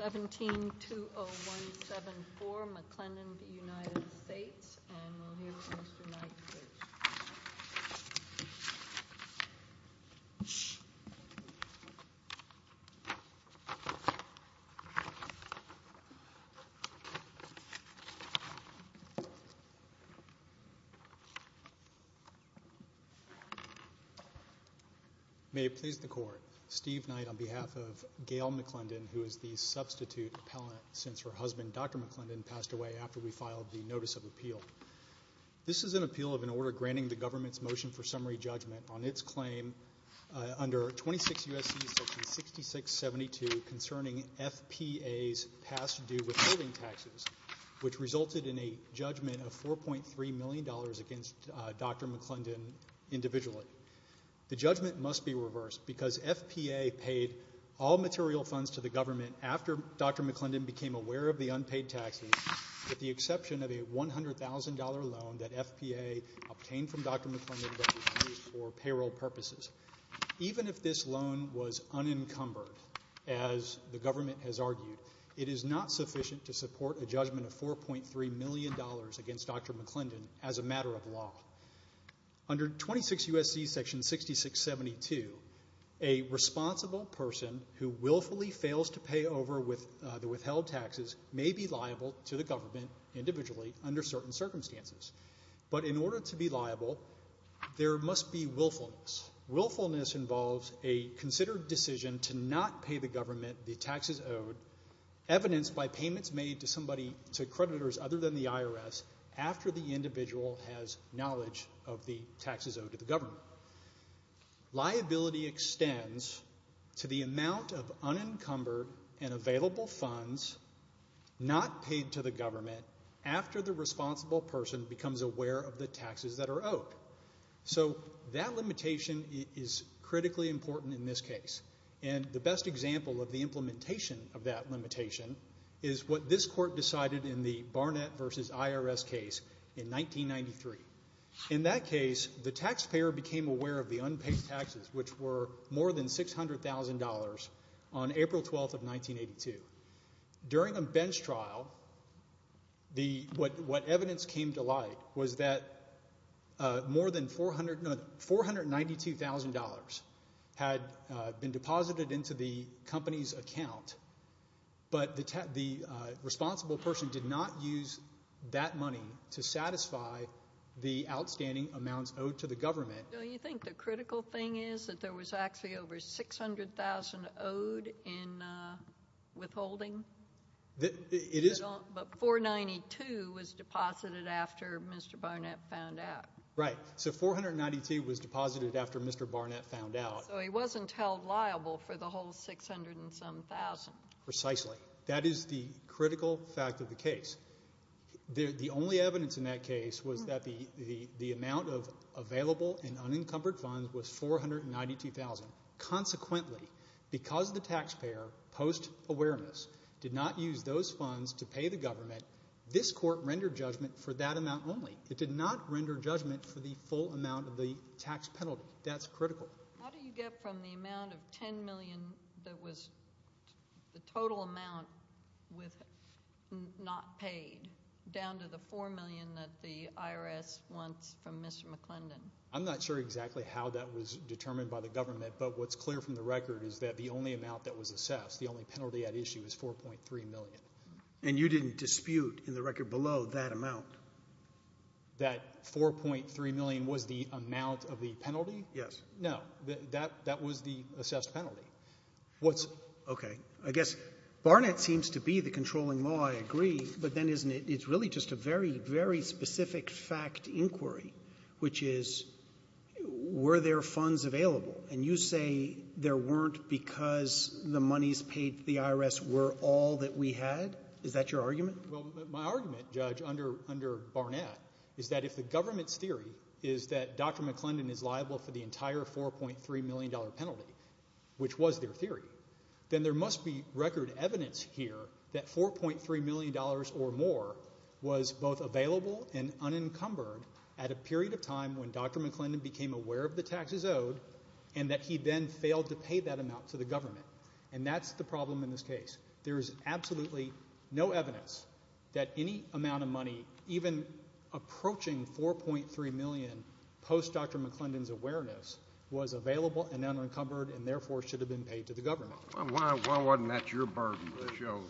1720174 McClendon v. United States and we'll hear from Mr. Knight first. Steve Knight on behalf of Gail McClendon, who is the substitute appellant since her husband, Dr. McClendon, passed away after we filed the notice of appeal. This is an appeal of an order granting the government's motion for summary judgment on its claim under 26 U.S.C. section 6672 concerning FPA's past due withholding taxes, which resulted in a judgment of $4.3 million against Dr. McClendon individually. The judgment must be reversed because FPA paid all material funds to the government after Dr. McClendon became aware of the unpaid taxes with the exception of a $100,000 loan that FPA obtained from Dr. McClendon for payroll purposes. Even if this loan was unencumbered, as the government has argued, it is not sufficient to support a judgment of $4.3 million against Dr. McClendon as a matter of law. Under 26 U.S.C. section 6672, a responsible person who willfully fails to pay over the withheld taxes may be liable to the government individually under certain circumstances. But in order to be liable, there must be willfulness. Willfulness involves a considered decision to not pay the government the taxes owed, evidenced by payments made to creditors other than the IRS after the individual has knowledge of the taxes owed to the government. Liability extends to the amount of unencumbered and available funds not paid to the government after the responsible person becomes aware of the taxes that are owed. So that limitation is critically important in this case. And the best example of the implementation of that limitation is what this court decided in the Barnett v. IRS case in 1993. In that case, the taxpayer became aware of the unpaid taxes, which were more than $600,000 on April 12th of 1982. During a bench trial, what evidence came to light was that more than $492,000 had been deposited into the company's account, but the responsible person did not use that money to satisfy the outstanding amounts owed to the government. Don't you think the critical thing is that there was actually over $600,000 owed in withholding? It is. But $492,000 was deposited after Mr. Barnett found out. Right. So $492,000 was deposited after Mr. Barnett found out. So he wasn't held liable for the whole $600,000 and some thousand. Precisely. That is the critical fact of the case. The only evidence in that case was that the amount of available and unencumbered funds was $492,000. Consequently, because the taxpayer, post-awareness, did not use those funds to pay the government, this court rendered judgment for that amount only. It did not render judgment for the full amount of the tax penalty. That's critical. How do you get from the amount of $10 million that was the total amount not paid down to the $4 million that the IRS wants from Mr. McClendon? I'm not sure exactly how that was determined by the government, but what's clear from the record is that the only amount that was assessed, the only penalty at issue, was $4.3 million. And you didn't dispute in the record below that amount? That $4.3 million was the amount of the penalty? Yes. No. That was the assessed penalty. Okay. I guess Barnett seems to be the controlling law, I agree, but then isn't it? It's really just a very, very specific fact inquiry, which is were there funds available? And you say there weren't because the monies paid to the IRS were all that we had? Is that your argument? Well, my argument, Judge, under Barnett, is that if the government's theory is that Dr. McClendon is liable for the entire $4.3 million penalty, which was their theory, then there must be record evidence here that $4.3 million or more was both available and unencumbered at a period of time when Dr. McClendon became aware of the taxes owed and that he then failed to pay that amount to the government. And that's the problem in this case. There is absolutely no evidence that any amount of money, even approaching $4.3 million post-Dr. McClendon's awareness, was available and unencumbered and therefore should have been paid to the government. Why wasn't that your burden to show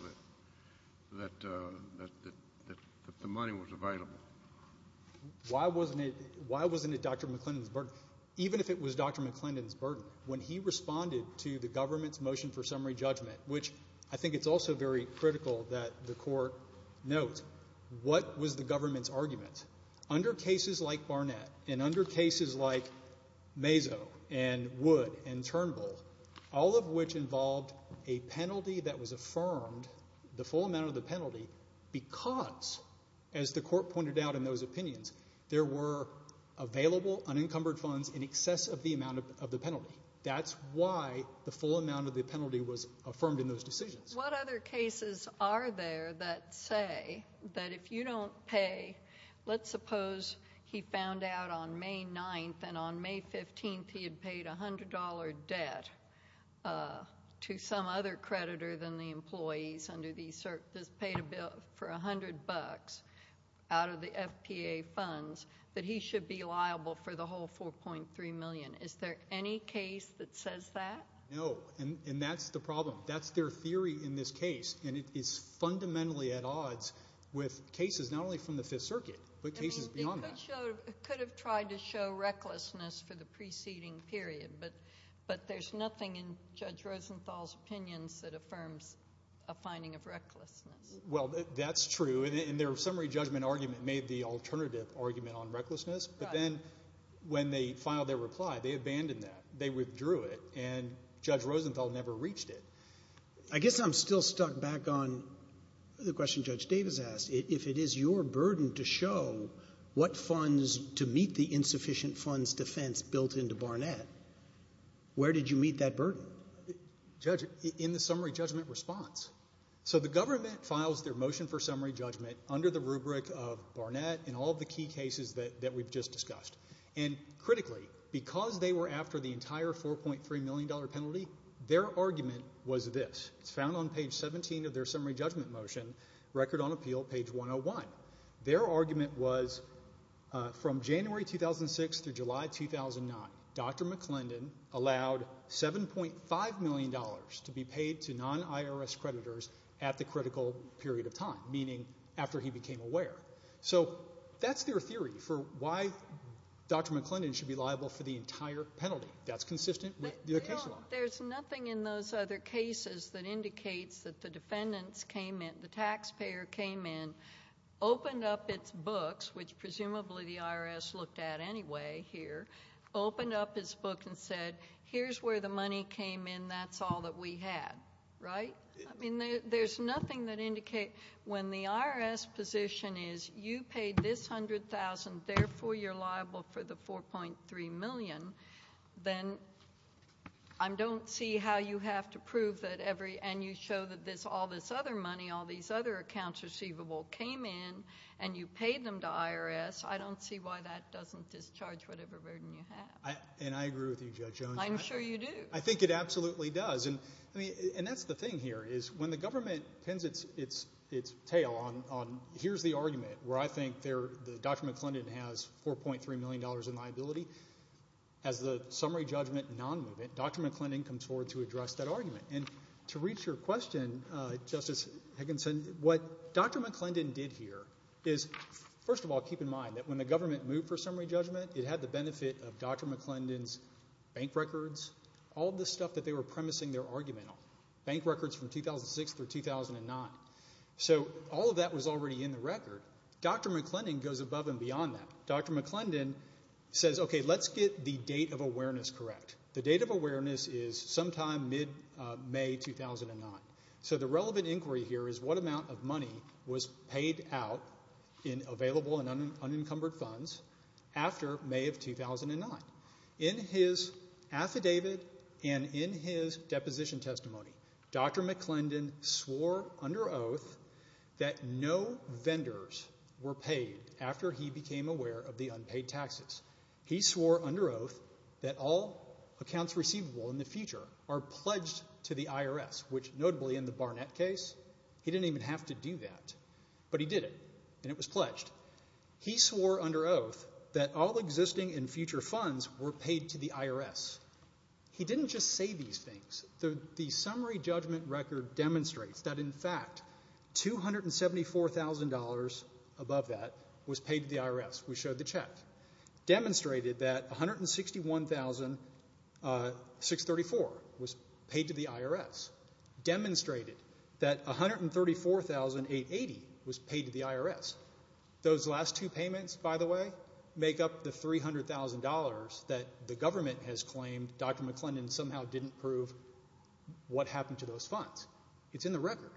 that the money was available? Why wasn't it Dr. McClendon's burden? Even if it was Dr. McClendon's burden, when he responded to the government's motion for summary judgment, which I think it's also very critical that the Court note, what was the government's argument? Under cases like Barnett and under cases like Mazo and Wood and Turnbull, all of which involved a penalty that was affirmed, the full amount of the penalty, because, as the Court pointed out in those opinions, there were available unencumbered funds in excess of the amount of the penalty. That's why the full amount of the penalty was affirmed in those decisions. What other cases are there that say that if you don't pay, let's suppose he found out on May 9th and on May 15th he had paid $100 debt to some other creditor than the employees that paid a bill for $100 out of the FPA funds that he should be liable for the whole $4.3 million. Is there any case that says that? No, and that's the problem. That's their theory in this case, and it is fundamentally at odds with cases not only from the Fifth Circuit but cases beyond that. It could have tried to show recklessness for the preceding period, but there's nothing in Judge Rosenthal's opinions that affirms a finding of recklessness. Well, that's true, and their summary judgment argument made the alternative argument on recklessness, but then when they filed their reply, they abandoned that. They withdrew it, and Judge Rosenthal never reached it. I guess I'm still stuck back on the question Judge Davis asked. If it is your burden to show what funds to meet where did you meet that burden? In the summary judgment response. So the government files their motion for summary judgment under the rubric of Barnett and all the key cases that we've just discussed, and critically, because they were after the entire $4.3 million penalty, their argument was this. It's found on page 17 of their summary judgment motion, Record on Appeal, page 101. Their argument was from January 2006 through July 2009, Dr. McClendon allowed $7.5 million to be paid to non-IRS creditors at the critical period of time, meaning after he became aware. So that's their theory for why Dr. McClendon should be liable for the entire penalty. That's consistent with their case law. There's nothing in those other cases that indicates that the defendants came in, the taxpayer came in, opened up its books, which presumably the IRS looked at anyway here, opened up its books and said, here's where the money came in, that's all that we had. Right? I mean, there's nothing that indicates when the IRS position is, you paid this $100,000, therefore you're liable for the $4.3 million, then I don't see how you have to prove that every, and you show that all this other money, and you paid them to IRS. I don't see why that doesn't discharge whatever burden you have. And I agree with you, Judge Jones. I'm sure you do. I think it absolutely does. And that's the thing here is when the government pins its tail on, here's the argument where I think Dr. McClendon has $4.3 million in liability, as the summary judgment non-movement, Dr. McClendon comes forward to address that argument. And to reach your question, Justice Higginson, what Dr. McClendon did here is, first of all, keep in mind that when the government moved for summary judgment, it had the benefit of Dr. McClendon's bank records, all of the stuff that they were premising their argument on, bank records from 2006 through 2009. So all of that was already in the record. Dr. McClendon goes above and beyond that. Dr. McClendon says, okay, let's get the date of awareness correct. The date of awareness is sometime mid-May 2009. So the relevant inquiry here is what amount of money was paid out in available and unencumbered funds after May of 2009. In his affidavit and in his deposition testimony, Dr. McClendon swore under oath that no vendors were paid after he became aware of the unpaid taxes. He swore under oath that all accounts receivable in the future are pledged to the IRS, which notably in the Barnett case, he didn't even have to do that, but he did it, and it was pledged. He swore under oath that all existing and future funds were paid to the IRS. He didn't just say these things. The summary judgment record demonstrates that, in fact, $274,000 above that was paid to the IRS. We showed the check. Demonstrated that $161,634 was paid to the IRS. Demonstrated that $134,880 was paid to the IRS. Those last two payments, by the way, make up the $300,000 that the government has claimed Dr. McClendon somehow didn't prove what happened to those funds. It's in the record.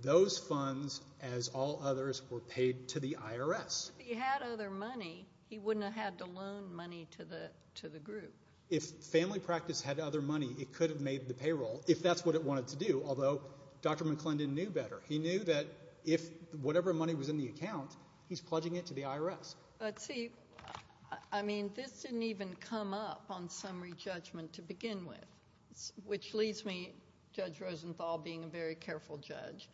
Those funds, as all others, were paid to the IRS. If he had other money, he wouldn't have had to loan money to the group. If family practice had other money, it could have made the payroll if that's what it wanted to do, although Dr. McClendon knew better. He knew that if whatever money was in the account, he's pledging it to the IRS. But, see, I mean this didn't even come up on summary judgment to begin with, which leads me, Judge Rosenthal being a very careful judge,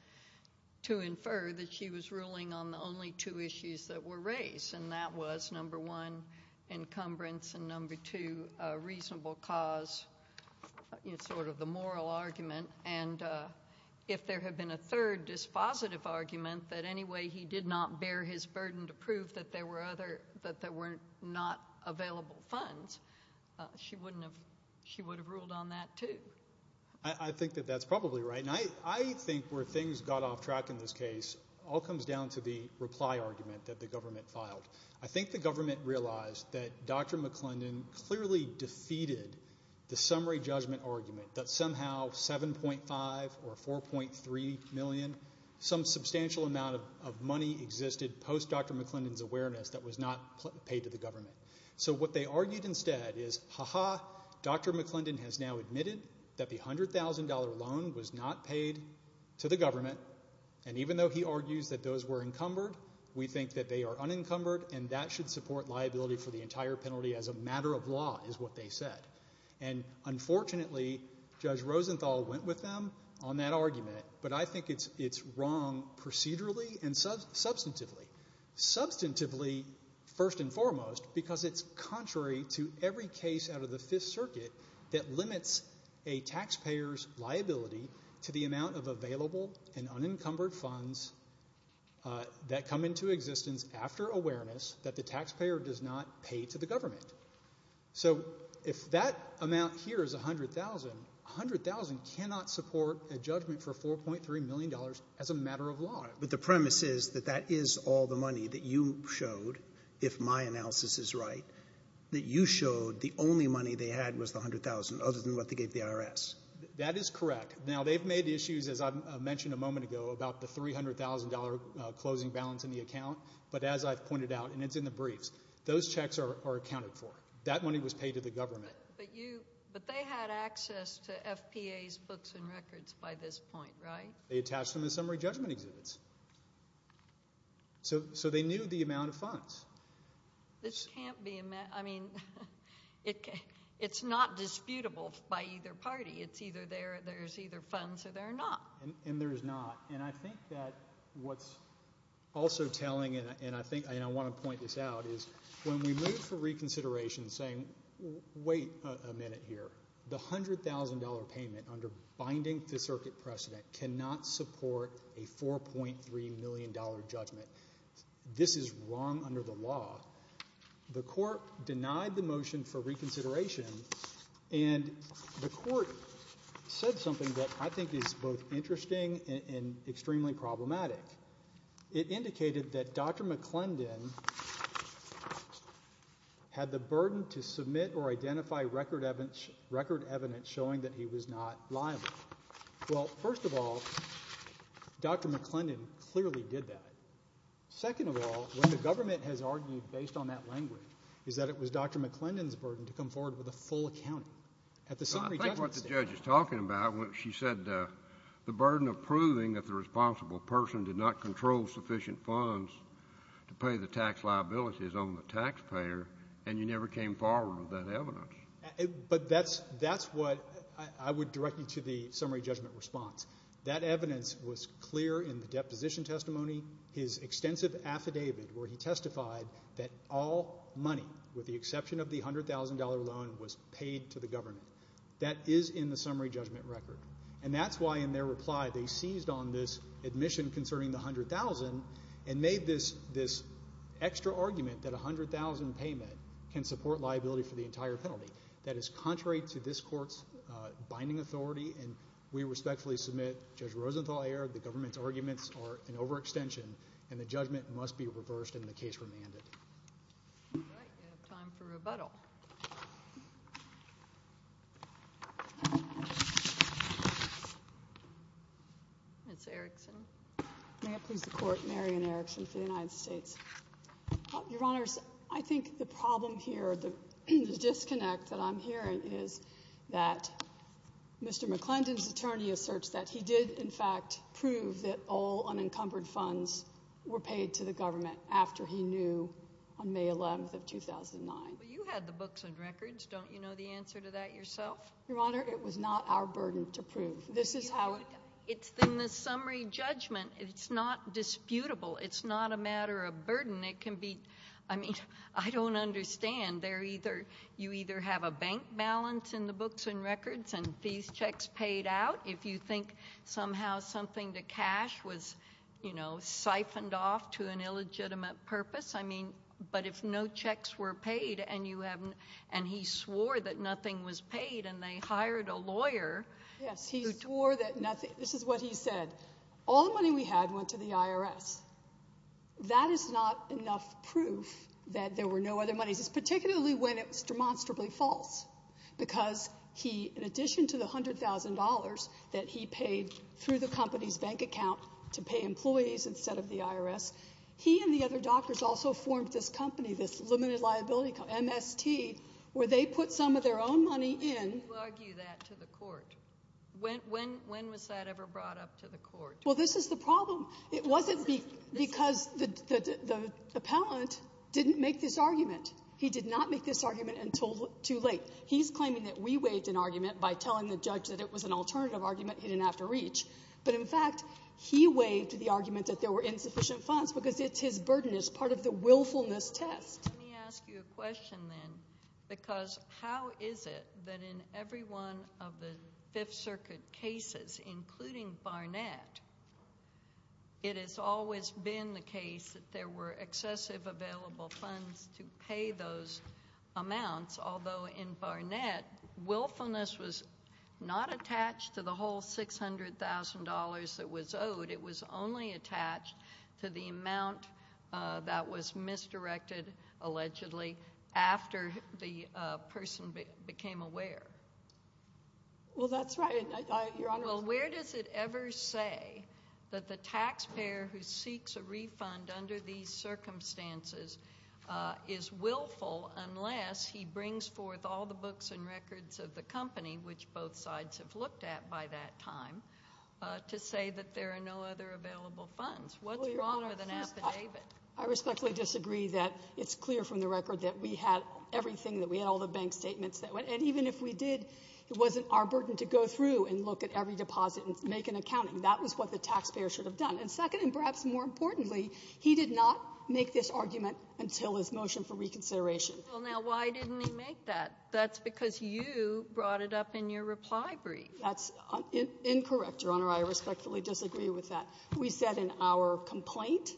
to infer that she was ruling on the only two issues that were raised, and that was, number one, encumbrance, and, number two, reasonable cause, sort of the moral argument. And if there had been a third dispositive argument, that anyway he did not bear his burden to prove that there were not available funds, she would have ruled on that too. I think that that's probably right. And I think where things got off track in this case all comes down to the reply argument that the government filed. I think the government realized that Dr. McClendon clearly defeated the summary judgment argument that somehow $7.5 or $4.3 million, some substantial amount of money existed post-Dr. McClendon's awareness that was not paid to the government. So what they argued instead is, Aha, Dr. McClendon has now admitted that the $100,000 loan was not paid to the government, and even though he argues that those were encumbered, we think that they are unencumbered, and that should support liability for the entire penalty as a matter of law, is what they said. And unfortunately, Judge Rosenthal went with them on that argument, but I think it's wrong procedurally and substantively. Substantively, first and foremost, because it's contrary to every case out of the Fifth Circuit that limits a taxpayer's liability to the amount of available and unencumbered funds that come into existence after awareness that the taxpayer does not pay to the government. So if that amount here is $100,000, $100,000 cannot support a judgment for $4.3 million as a matter of law. But the premise is that that is all the money that you showed if my analysis is right, that you showed the only money they had was the $100,000 other than what they gave the IRS. That is correct. Now, they've made issues, as I mentioned a moment ago, about the $300,000 closing balance in the account, but as I've pointed out, and it's in the briefs, those checks are accounted for. That money was paid to the government. But they had access to FPA's books and records by this point, right? They attached them to summary judgment exhibits. So they knew the amount of funds. This can't be a matter... I mean, it's not disputable by either party. It's either there's either funds or there are not. And there is not. And I think that what's also telling, and I want to point this out, is when we move for reconsideration saying, wait a minute here, the $100,000 payment under binding the circuit precedent cannot support a $4.3 million judgment, this is wrong under the law. The court denied the motion for reconsideration, and the court said something that I think is both interesting and extremely problematic. It indicated that Dr. McClendon had the burden to submit or identify record evidence showing that he was not liable. Well, first of all, Dr. McClendon clearly did that. Second of all, when the government has argued based on that language, is that it was Dr. McClendon's burden to come forward with a full accounting. I think what the judge is talking about, she said the burden of proving that the responsible person did not control sufficient funds to pay the tax liabilities on the taxpayer, and you never came forward with that evidence. But that's what I would direct you to the summary judgment response. That evidence was clear in the deposition testimony, his extensive affidavit where he testified that all money, with the exception of the $100,000 loan, was paid to the government. That is in the summary judgment record. And that's why in their reply they seized on this admission concerning the $100,000 and made this extra argument that a $100,000 payment can support liability for the entire penalty. That is contrary to this court's binding authority, and we respectfully submit, Judge Rosenthal, I err, the government's arguments are an overextension, and the judgment must be reversed and the case remanded. All right, we have time for rebuttal. Ms. Erickson. May it please the Court, Marion Erickson for the United States. Your Honors, I think the problem here, the disconnect that I'm hearing is that Mr. McClendon's attorney asserts that he did in fact prove that all unencumbered funds were paid to the government after he knew on May 11, 2009. Well, you had the books and records. Don't you know the answer to that yourself? Your Honor, it was not our burden to prove. This is how... It's in the summary judgment. It's not disputable. It's not a matter of burden. It can be... I mean, I don't understand. You either have a bank balance in the books and records and these checks paid out, if you think somehow something to cash was, you know, siphoned off to an illegitimate purpose. I mean, but if no checks were paid, and he swore that nothing was paid, and they hired a lawyer... Yes, he swore that nothing... This is what he said. All the money we had went to the IRS. That is not enough proof that there were no other monies, particularly when it was demonstrably false, because he, in addition to the $100,000 that he paid through the company's bank account to pay employees instead of the IRS, he and the other doctors also formed this company, this limited liability company, MST, where they put some of their own money in... Why do you argue that to the court? When was that ever brought up to the court? Well, this is the problem. It wasn't because the appellant didn't make this argument. He did not make this argument until too late. He's claiming that we waived an argument by telling the judge that it was an alternative argument he didn't have to reach, but, in fact, he waived the argument that there were insufficient funds because it's his burden. It's part of the willfulness test. Let me ask you a question, then, because how is it that in every one of the Fifth Circuit cases, including Barnett, it has always been the case that there were excessive available funds to pay those amounts, although in Barnett, willfulness was not attached to the whole $600,000 that was owed. that was misdirected, allegedly, after the person became aware? Well, that's right, Your Honor. Well, where does it ever say that the taxpayer who seeks a refund under these circumstances is willful unless he brings forth all the books and records of the company, which both sides have looked at by that time, to say that there are no other available funds? What's wrong with an affidavit? I respectfully disagree that it's clear from the records that we had everything, that we had all the bank statements. And even if we did, it wasn't our burden to go through and look at every deposit and make an accounting. That was what the taxpayer should have done. And second, and perhaps more importantly, he did not make this argument until his motion for reconsideration. Well, now, why didn't he make that? That's because you brought it up in your reply brief. That's incorrect, Your Honor. I respectfully disagree with that. We said in our complaint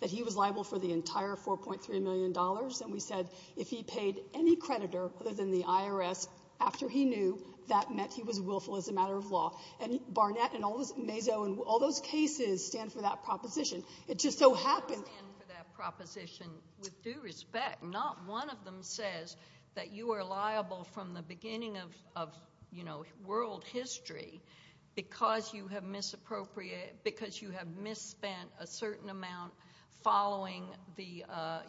that he was liable for the entire $4.3 million, and we said if he paid any creditor other than the IRS after he knew, that meant he was willful as a matter of law. And Barnett and all those cases stand for that proposition. It just so happens... ...stand for that proposition with due respect. Not one of them says that you are liable from the beginning of, you know, world history because you have misspent a certain amount following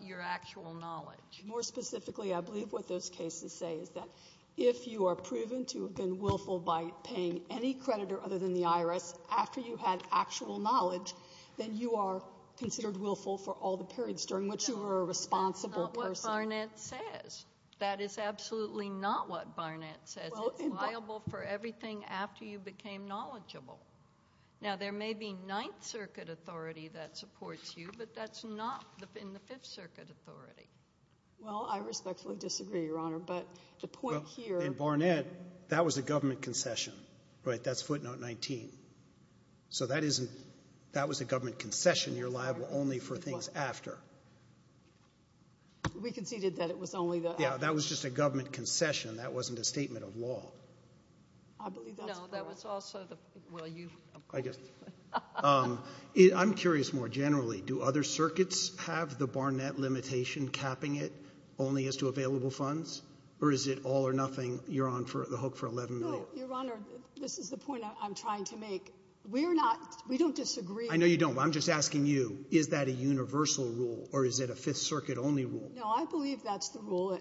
your actual knowledge. More specifically, I believe what those cases say is that if you are proven to have been willful by paying any creditor other than the IRS after you had actual knowledge, then you are considered willful for all the periods during which you were a responsible person. No, that's not what Barnett says. That is absolutely not what Barnett says. It's liable for everything after you became knowledgeable. Now, there may be Ninth Circuit authority that supports you, but that's not in the Fifth Circuit authority. Well, I respectfully disagree, Your Honor, but the point here... In Barnett, that was a government concession, right? That's footnote 19. So that was a government concession. You're liable only for things after. We conceded that it was only the... That wasn't a statement of law. No, that was also the... I'm curious more generally, do other circuits have the Barnett limitation capping it only as to available funds, or is it all or nothing, you're on the hook for $11 million? No, Your Honor, this is the point I'm trying to make. We're not... We don't disagree. I know you don't, but I'm just asking you, is that a universal rule, or is it a Fifth Circuit-only rule? No, I believe that's the rule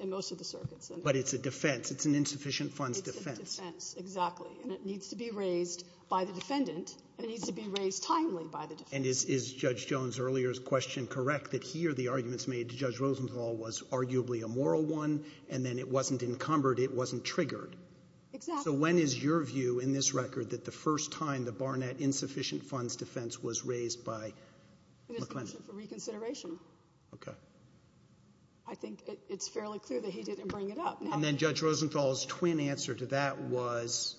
in most of the circuits. But it's a defence. It's an insufficient funds defence. It's a defence, exactly. And it needs to be raised by the defendant, and it needs to be raised timely by the defendant. And is Judge Jones' earlier question correct, that here the arguments made to Judge Rosenthal was arguably a moral one, and then it wasn't encumbered, it wasn't triggered? Exactly. So when is your view in this record that the first time the Barnett insufficient funds defence was raised by McLendon? It is considered for reconsideration. OK. I think it's fairly clear that he didn't bring it up. And then Judge Rosenthal's twin answer to that was,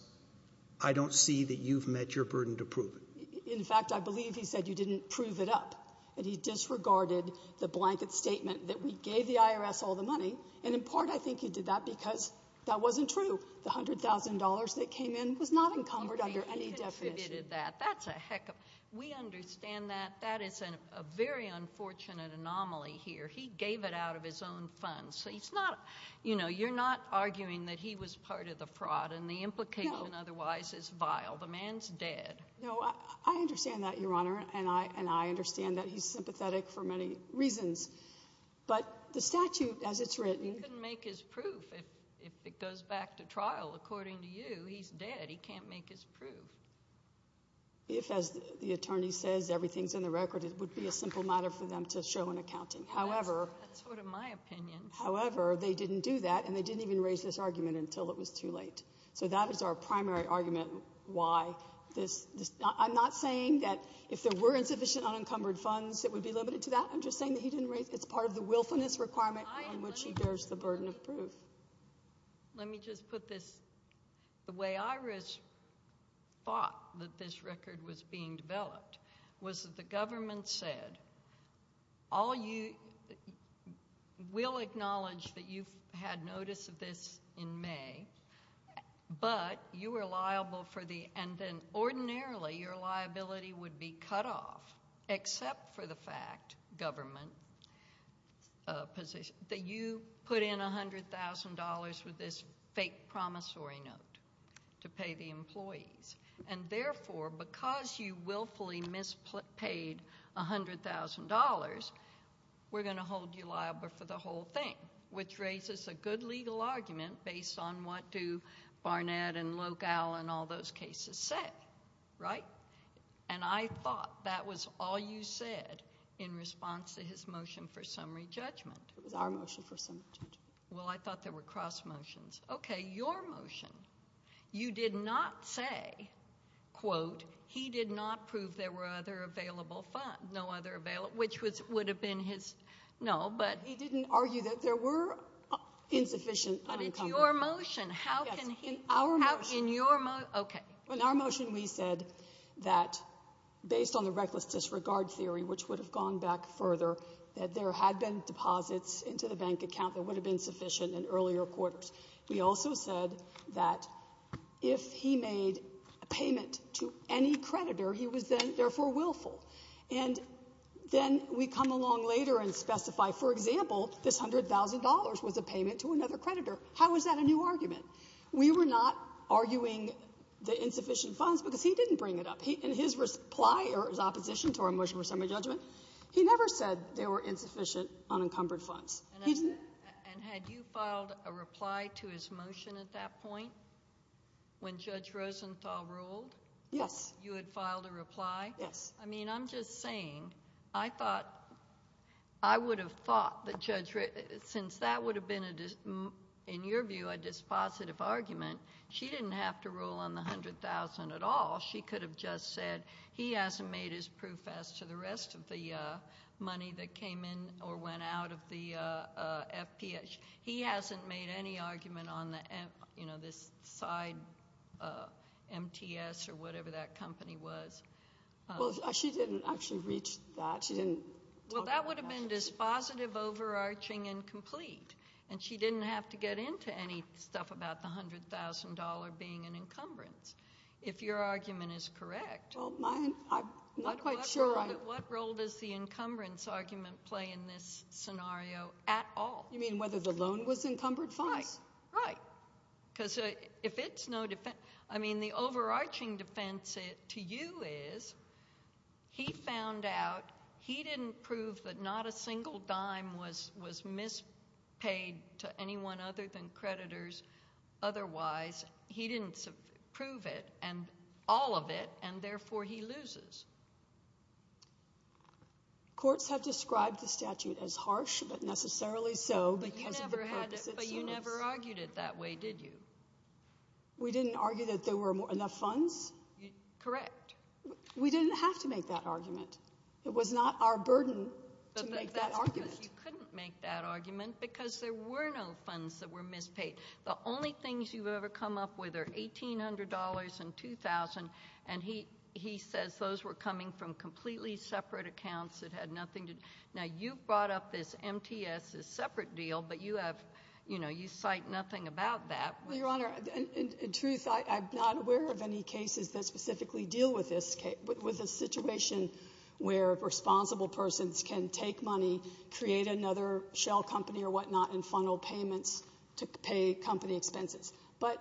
I don't see that you've met your burden to prove it. In fact, I believe he said you didn't prove it up, that he disregarded the blanket statement that we gave the IRS all the money, and in part I think he did that because that wasn't true. The $100,000 that came in was not encumbered under any definition. He contributed that. That's a heck of... We understand that that is a very unfortunate anomaly here. He gave it out of his own funds, so he's not... You know, you're not arguing that he was part of the fraud and the implication otherwise is vile. No. The man's dead. No, I understand that, Your Honour, and I understand that he's sympathetic for many reasons. But the statute, as it's written... He couldn't make his proof if it goes back to trial, according to you. He's dead. He can't make his proof. If, as the attorney says, everything's in the record, it would be a simple matter for them to show in accounting. That's sort of my opinion. However, they didn't do that, and they didn't even raise this argument until it was too late. So that is our primary argument why this... I'm not saying that if there were insufficient unencumbered funds, it would be limited to that. I'm just saying that it's part of the willfulness requirement on which he bears the burden of proof. Let me just put this... The way I thought that this record was being developed was that the government said, all you... We'll acknowledge that you had notice of this in May, but you were liable for the... And then ordinarily your liability would be cut off except for the fact, government position, that you put in $100,000 with this fake promissory note to pay the employees. And therefore, because you willfully mispaid $100,000, we're going to hold you liable for the whole thing, which raises a good legal argument based on what do Barnett and Locale and all those cases say, right? And I thought that was all you said in response to his motion for summary judgment. It was our motion for summary judgment. Well, I thought there were cross-motions. OK, your motion, you did not say, quote, he did not prove there were other available funds, no other available... Which would have been his... No, but... He didn't argue that there were insufficient unencumbered... But it's your motion. How can he... Yes, in our motion... OK. In our motion, we said that based on the reckless disregard theory, which would have gone back further, that there had been deposits into the bank account that would have been sufficient in earlier quarters. We also said that if he made a payment to any creditor, he was then therefore willful. And then we come along later and specify, for example, this $100,000 was a payment to another creditor. How is that a new argument? We were not arguing the insufficient funds because he didn't bring it up. In his reply, or his opposition to our motion for summary judgment, he never said there were insufficient unencumbered funds. And had you filed a reply to his motion at that point, when Judge Rosenthal ruled? Yes. You had filed a reply? Yes. I mean, I'm just saying, I thought... I would have thought that Judge... Since that would have been, in your view, a dispositive argument, she didn't have to rule on the $100,000 at all. She could have just said, he hasn't made his proof as to the rest of the money that came in or went out of the FTS. He hasn't made any argument on this side MTS or whatever that company was. Well, she didn't actually reach that. She didn't talk about that. Well, that would have been dispositive, overarching, incomplete. And she didn't have to get into any stuff about the $100,000 being an encumbrance. If your argument is correct... Well, I'm not quite sure I... What role does the encumbrance argument play in this scenario at all? You mean whether the loan was encumbered funds? Right. Right. Because if it's no defence... I mean, the overarching defence to you is, he found out he didn't prove that not a single dime was mispaid to anyone other than creditors otherwise. He didn't prove it, all of it, and therefore he loses. Courts have described the statute as harsh, but necessarily so because of the purpose it serves. But you never argued it that way, did you? We didn't argue that there were enough funds? Correct. We didn't have to make that argument. It was not our burden to make that argument. But that's because you couldn't make that argument because there were no funds that were mispaid. The only things you've ever come up with are $1,800 and $2,000, and he says those were coming from completely separate accounts that had nothing to do... Now, you've brought up this MTS as separate deal, but you cite nothing about that. Well, Your Honour, in truth, I'm not aware of any cases that specifically deal with this situation where responsible persons can take money, create another shell company or whatnot, and funnel payments to pay company expenses. But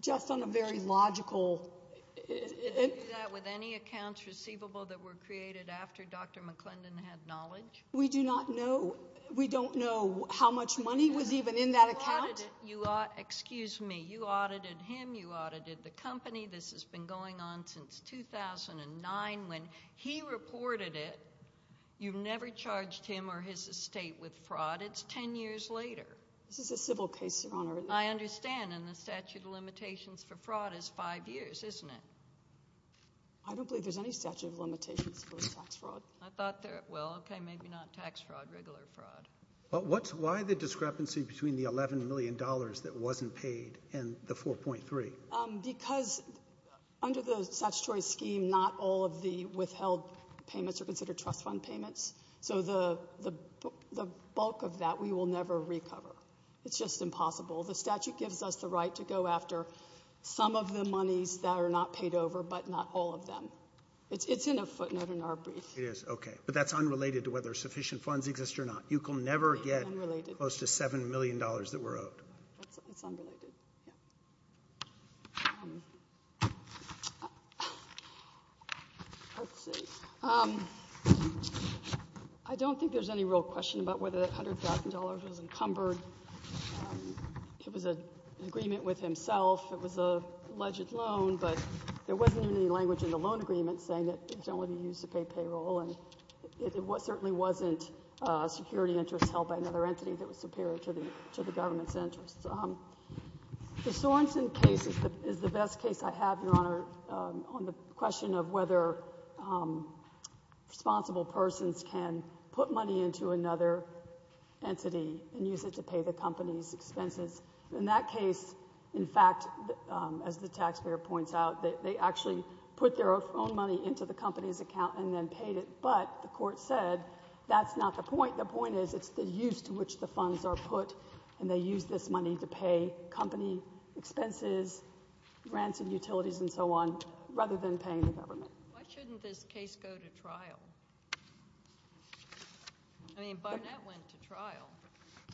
just on a very logical... Did you do that with any accounts receivable that were created after Dr McClendon had knowledge? We do not know. We don't know how much money was even in that account. Excuse me. You audited him, you audited the company. This has been going on since 2009. When he reported it, you never charged him or his estate with fraud. It's ten years later. This is a civil case, Your Honour. I understand, and the statute of limitations for fraud is five years, isn't it? I don't believe there's any statute of limitations for tax fraud. I thought there... Well, okay, maybe not tax fraud, regular fraud. Why the discrepancy between the $11 million that wasn't paid and the 4.3? Because under the statutory scheme, not all of the withheld payments are considered trust fund payments, so the bulk of that we will never recover. It's just impossible. The statute gives us the right to go after some of the monies that are not paid over but not all of them. It's in a footnote in our brief. It is, okay. But that's unrelated to whether sufficient funds exist or not. You can never get close to $7 million that we're owed. It's unrelated, yeah. Let's see. I don't think there's any real question about whether that $100,000 was encumbered. It was an agreement with himself. It was an alleged loan, but there wasn't any language in the loan agreement saying it was only to be used to pay payroll, and it certainly wasn't security interests held by another entity that was superior to the government's interests. The question of whether responsible persons can put money into another entity and use it to pay the company's expenses. In that case, in fact, as the taxpayer points out, they actually put their own money into the company's account and then paid it, but the court said that's not the point. The point is it's the use to which the funds are put, and they use this money to pay company expenses, grants and utilities, and so on, rather than paying the government. Why shouldn't this case go to trial? I mean, Barnett went to trial.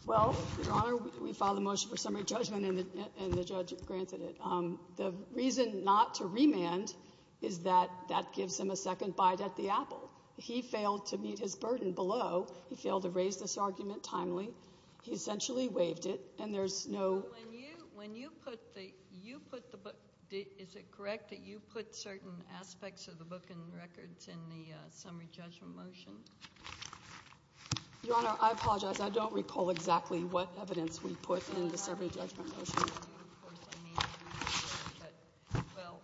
Well, Your Honor, we filed a motion for summary judgment, and the judge granted it. The reason not to remand is that that gives him a second bite at the apple. He failed to meet his burden below. He failed to raise this argument timely. He essentially waived it, and there's no— When you put the book—is it correct that you put certain aspects of the book and records in the summary judgment motion? Your Honor, I apologize. I don't recall exactly what evidence we put in the summary judgment motion. Well,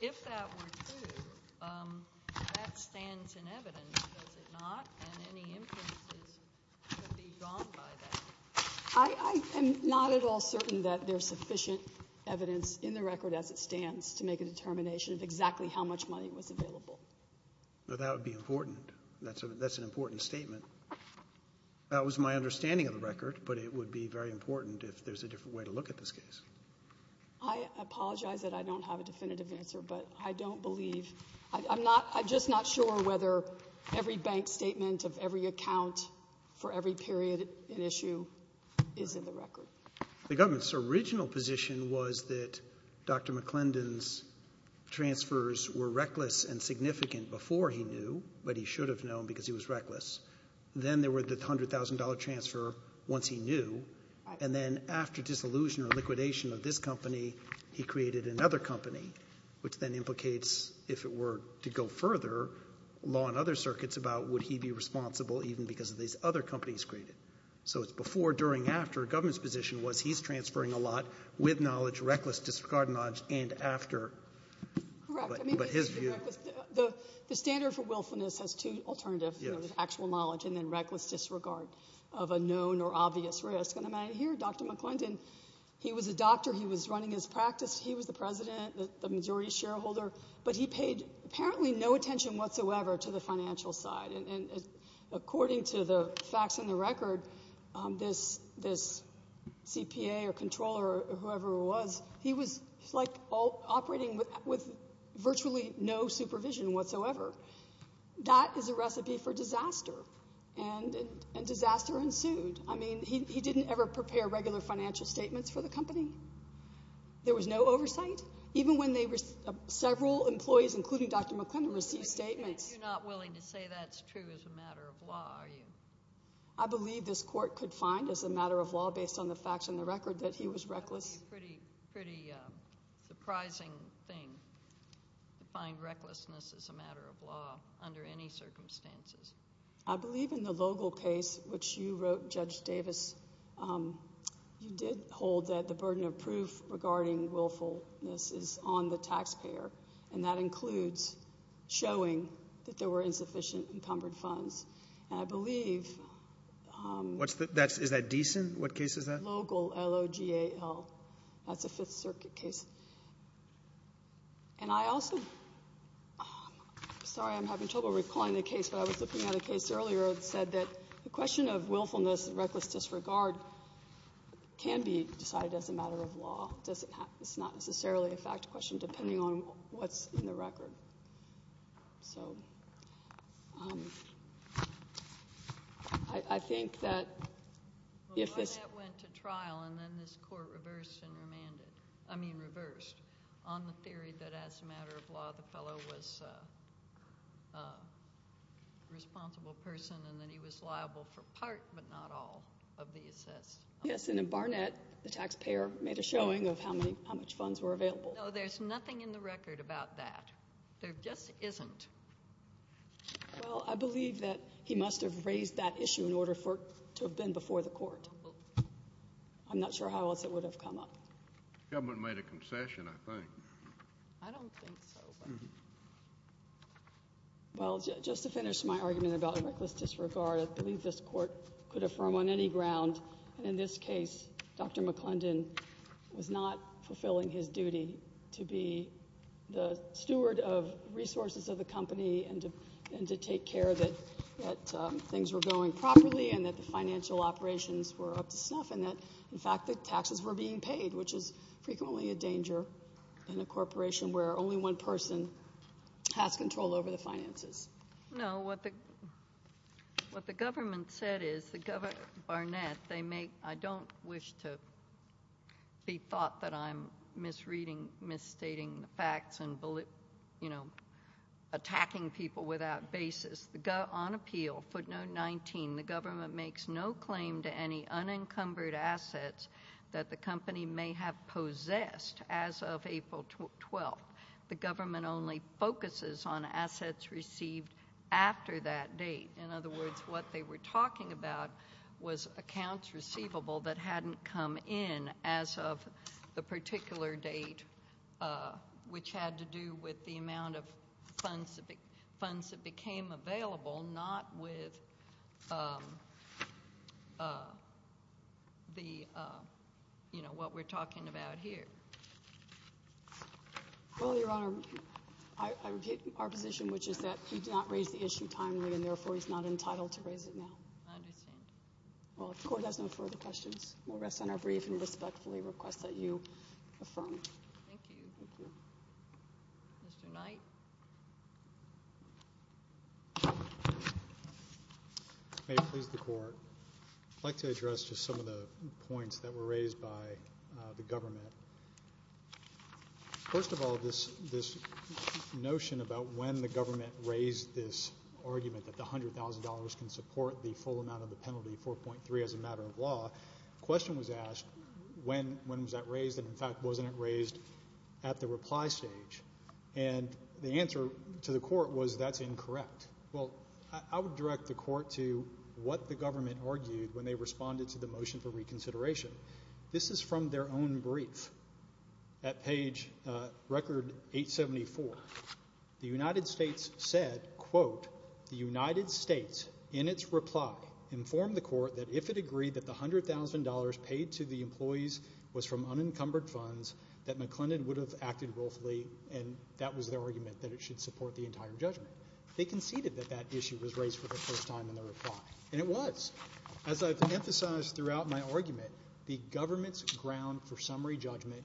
if that were true, that stands in evidence, does it not? And any inferences could be drawn by that. I am not at all certain that there's sufficient evidence in the record as it stands to make a determination of exactly how much money was available. That would be important. That's an important statement. That was my understanding of the record, but it would be very important if there's a different way to look at this case. I apologize that I don't have a definitive answer, but I don't believe— I'm just not sure whether every bank statement of every account for every period in issue is in the record. The government's original position was that Dr. McClendon's transfers were reckless and significant before he knew, but he should have known because he was reckless. Then there were the $100,000 transfer once he knew, and then after disillusion or liquidation of this company, he created another company, which then implicates, if it were to go further, law and other circuits about would he be responsible even because of these other companies created. So it's before, during, after. The government's position was he's transferring a lot with knowledge, reckless disregard of knowledge, and after. Correct. But his view— The standard for willfulness has two alternatives, actual knowledge and then reckless disregard of a known or obvious risk. Dr. McClendon, he was a doctor. He was running his practice. He was the president, the majority shareholder, but he paid apparently no attention whatsoever to the financial side. According to the facts in the record, this CPA or controller or whoever it was, he was operating with virtually no supervision whatsoever. That is a recipe for disaster, and disaster ensued. I mean, he didn't ever prepare regular financial statements for the company. There was no oversight, even when several employees, including Dr. McClendon, received statements. You're not willing to say that's true as a matter of law, are you? I believe this court could find as a matter of law, based on the facts in the record, that he was reckless. That would be a pretty surprising thing to find recklessness as a matter of law under any circumstances. I believe in the Logal case, which you wrote, Judge Davis, you did hold that the burden of proof regarding willfulness is on the taxpayer, and that includes showing that there were insufficient encumbered funds. And I believe— Is that decent? What case is that? Logal, L-O-G-A-L. That's a Fifth Circuit case. And I also— I was looking at a case earlier that said that the question of willfulness and reckless disregard can be decided as a matter of law. It's not necessarily a fact question, depending on what's in the record. I think that if this— Well, that went to trial, and then this court reversed and remanded— and that he was liable for part but not all of the assessed— Yes, and in Barnett, the taxpayer made a showing of how much funds were available. No, there's nothing in the record about that. There just isn't. Well, I believe that he must have raised that issue in order for it to have been before the court. I'm not sure how else it would have come up. The government made a concession, I think. I don't think so. Well, just to finish my argument about reckless disregard, I believe this court could affirm on any ground, and in this case, Dr. McClendon was not fulfilling his duty to be the steward of resources of the company and to take care that things were going properly and that the financial operations were up to snuff and that, in fact, the taxes were being paid, which is frequently a danger in a corporation where only one person has control over the finances. No, what the government said is— Barnett, I don't wish to be thought that I'm misreading, misstating the facts and, you know, attacking people without basis. On appeal, footnote 19, the government makes no claim to any unencumbered assets that the company may have possessed as of April 12th. The government only focuses on assets received after that date. In other words, what they were talking about was accounts receivable that hadn't come in as of the particular date, which had to do with the amount of funds that became available, not with, you know, what we're talking about here. Well, Your Honor, I repeat our position, which is that we did not raise the issue timely and, therefore, he's not entitled to raise it now. I understand. Well, if the Court has no further questions, we'll rest on our brief and respectfully request that you affirm. Thank you. Mr. Knight. May it please the Court. I'd like to address just some of the points that were raised by the government. First of all, this notion about when the government raised this argument that the $100,000 can support the full amount of the penalty, 4.3, as a matter of law, the question was asked when was that raised and, in fact, wasn't it raised at the reply stage? And the answer to the Court was that's incorrect. Well, I would direct the Court to what the government argued when they responded to the motion for reconsideration. This is from their own brief at page record 874. The United States said, quote, the United States in its reply informed the Court that if it agreed that the $100,000 paid to the employees was from unencumbered funds that McClendon would have acted willfully and that was their argument that it should support the entire judgment. They conceded that that issue was raised for the first time in their reply, and it was. As I've emphasized throughout my argument, the government's ground for summary judgment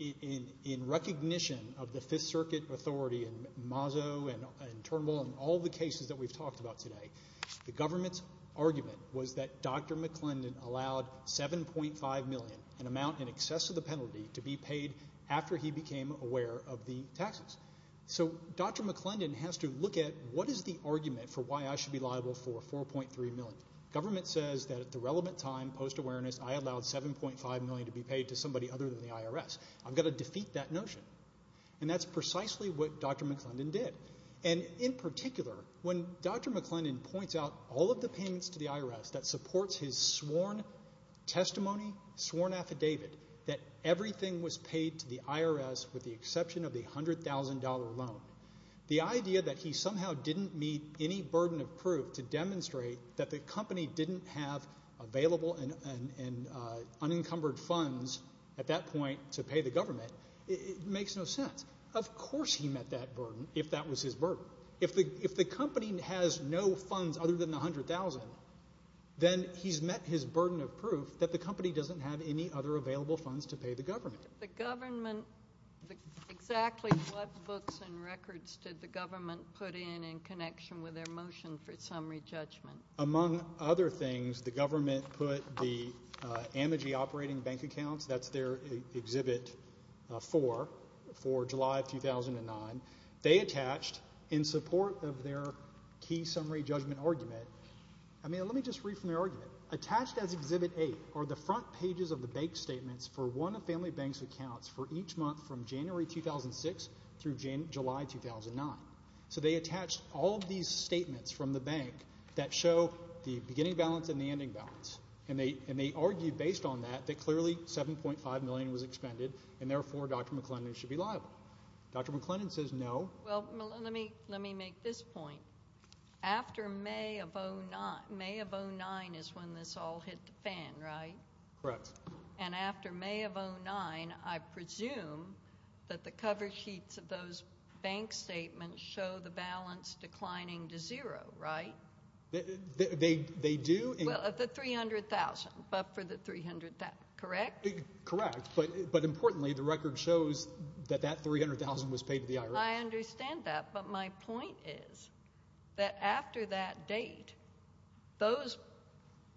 in recognition of the Fifth Circuit authority and Mazo and Turnbull and all the cases that we've talked about today, the government's argument was that Dr. McClendon allowed $7.5 million, an amount in excess of the penalty, to be paid after he became aware of the taxes. So Dr. McClendon has to look at what is the argument for why I should be liable for $4.3 million. Government says that at the relevant time, post-awareness, I allowed $7.5 million to be paid to somebody other than the IRS. I've got to defeat that notion, and that's precisely what Dr. McClendon did. And in particular, when Dr. McClendon points out all of the payments to the IRS that supports his sworn testimony, sworn affidavit, that everything was paid to the IRS with the exception of the $100,000 loan, the idea that he somehow didn't meet any burden of proof to demonstrate that the company didn't have available and unencumbered funds at that point to pay the government makes no sense. Of course he met that burden if that was his burden. If the company has no funds other than the $100,000, then he's met his burden of proof that the company doesn't have any other available funds to pay the government. The government, exactly what books and records did the government put in in connection with their motion for summary judgment? Among other things, the government put the AMIGI operating bank accounts, that's their Exhibit 4 for July of 2009, they attached in support of their key summary judgment argument, I mean, let me just read from the argument. Attached as Exhibit 8 are the front pages of the bank statements for one of Family Bank's accounts for each month from January 2006 through July 2009. So they attached all of these statements from the bank that show the beginning balance and the ending balance. And they argued based on that that clearly $7.5 million was expended and therefore Dr. McClendon should be liable. Dr. McClendon says no. Well, let me make this point. After May of 2009 is when this all hit the fan, right? Correct. And after May of 2009, I presume that the cover sheets of those bank statements show the balance declining to zero, right? They do. Well, the $300,000, but for the $300,000, correct? Correct. But importantly, the record shows that that $300,000 was paid to the IRS. I understand that. But my point is that after that date, those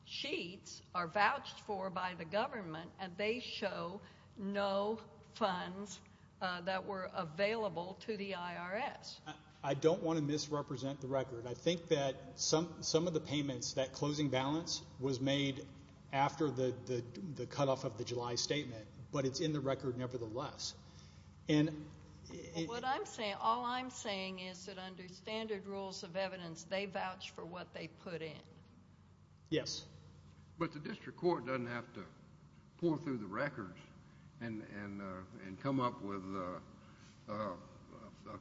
sheets are vouched for by the government and they show no funds that were available to the IRS. I don't want to misrepresent the record. I think that some of the payments, that closing balance was made after the cutoff of the July statement, but it's in the record nevertheless. All I'm saying is that under standard rules of evidence, they vouch for what they put in. Yes. But the district court doesn't have to pour through the records and come up with a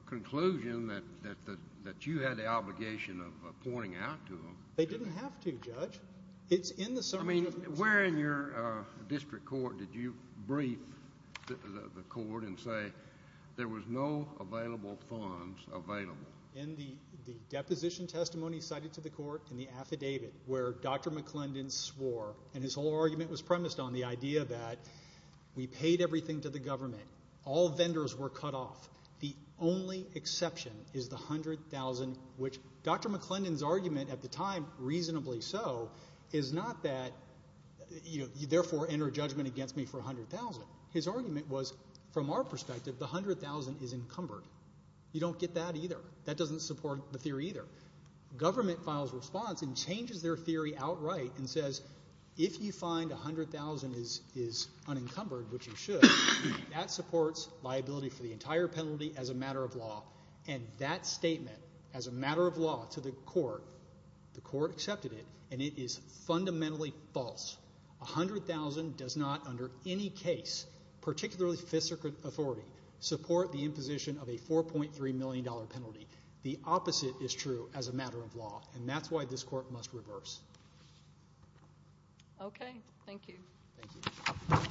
conclusion that you had the obligation of pointing out to them. They didn't have to, Judge. I mean, where in your district court did you brief the court and say there was no available funds available? In the deposition testimony cited to the court, in the affidavit where Dr. McClendon swore, and his whole argument was premised on the idea that we paid everything to the government. All vendors were cut off. The only exception is the $100,000, which Dr. McClendon's argument at the time, reasonably so, is not that you therefore enter judgment against me for $100,000. His argument was, from our perspective, the $100,000 is encumbered. You don't get that either. That doesn't support the theory either. Government files response and changes their theory outright and says if you find $100,000 is unencumbered, which it should, that supports liability for the entire penalty as a matter of law, and that statement as a matter of law to the court, the court accepted it, and it is fundamentally false. $100,000 does not, under any case, particularly fifth circuit authority, support the imposition of a $4.3 million penalty. The opposite is true as a matter of law, and that's why this court must reverse. Okay. Thank you. Thank you.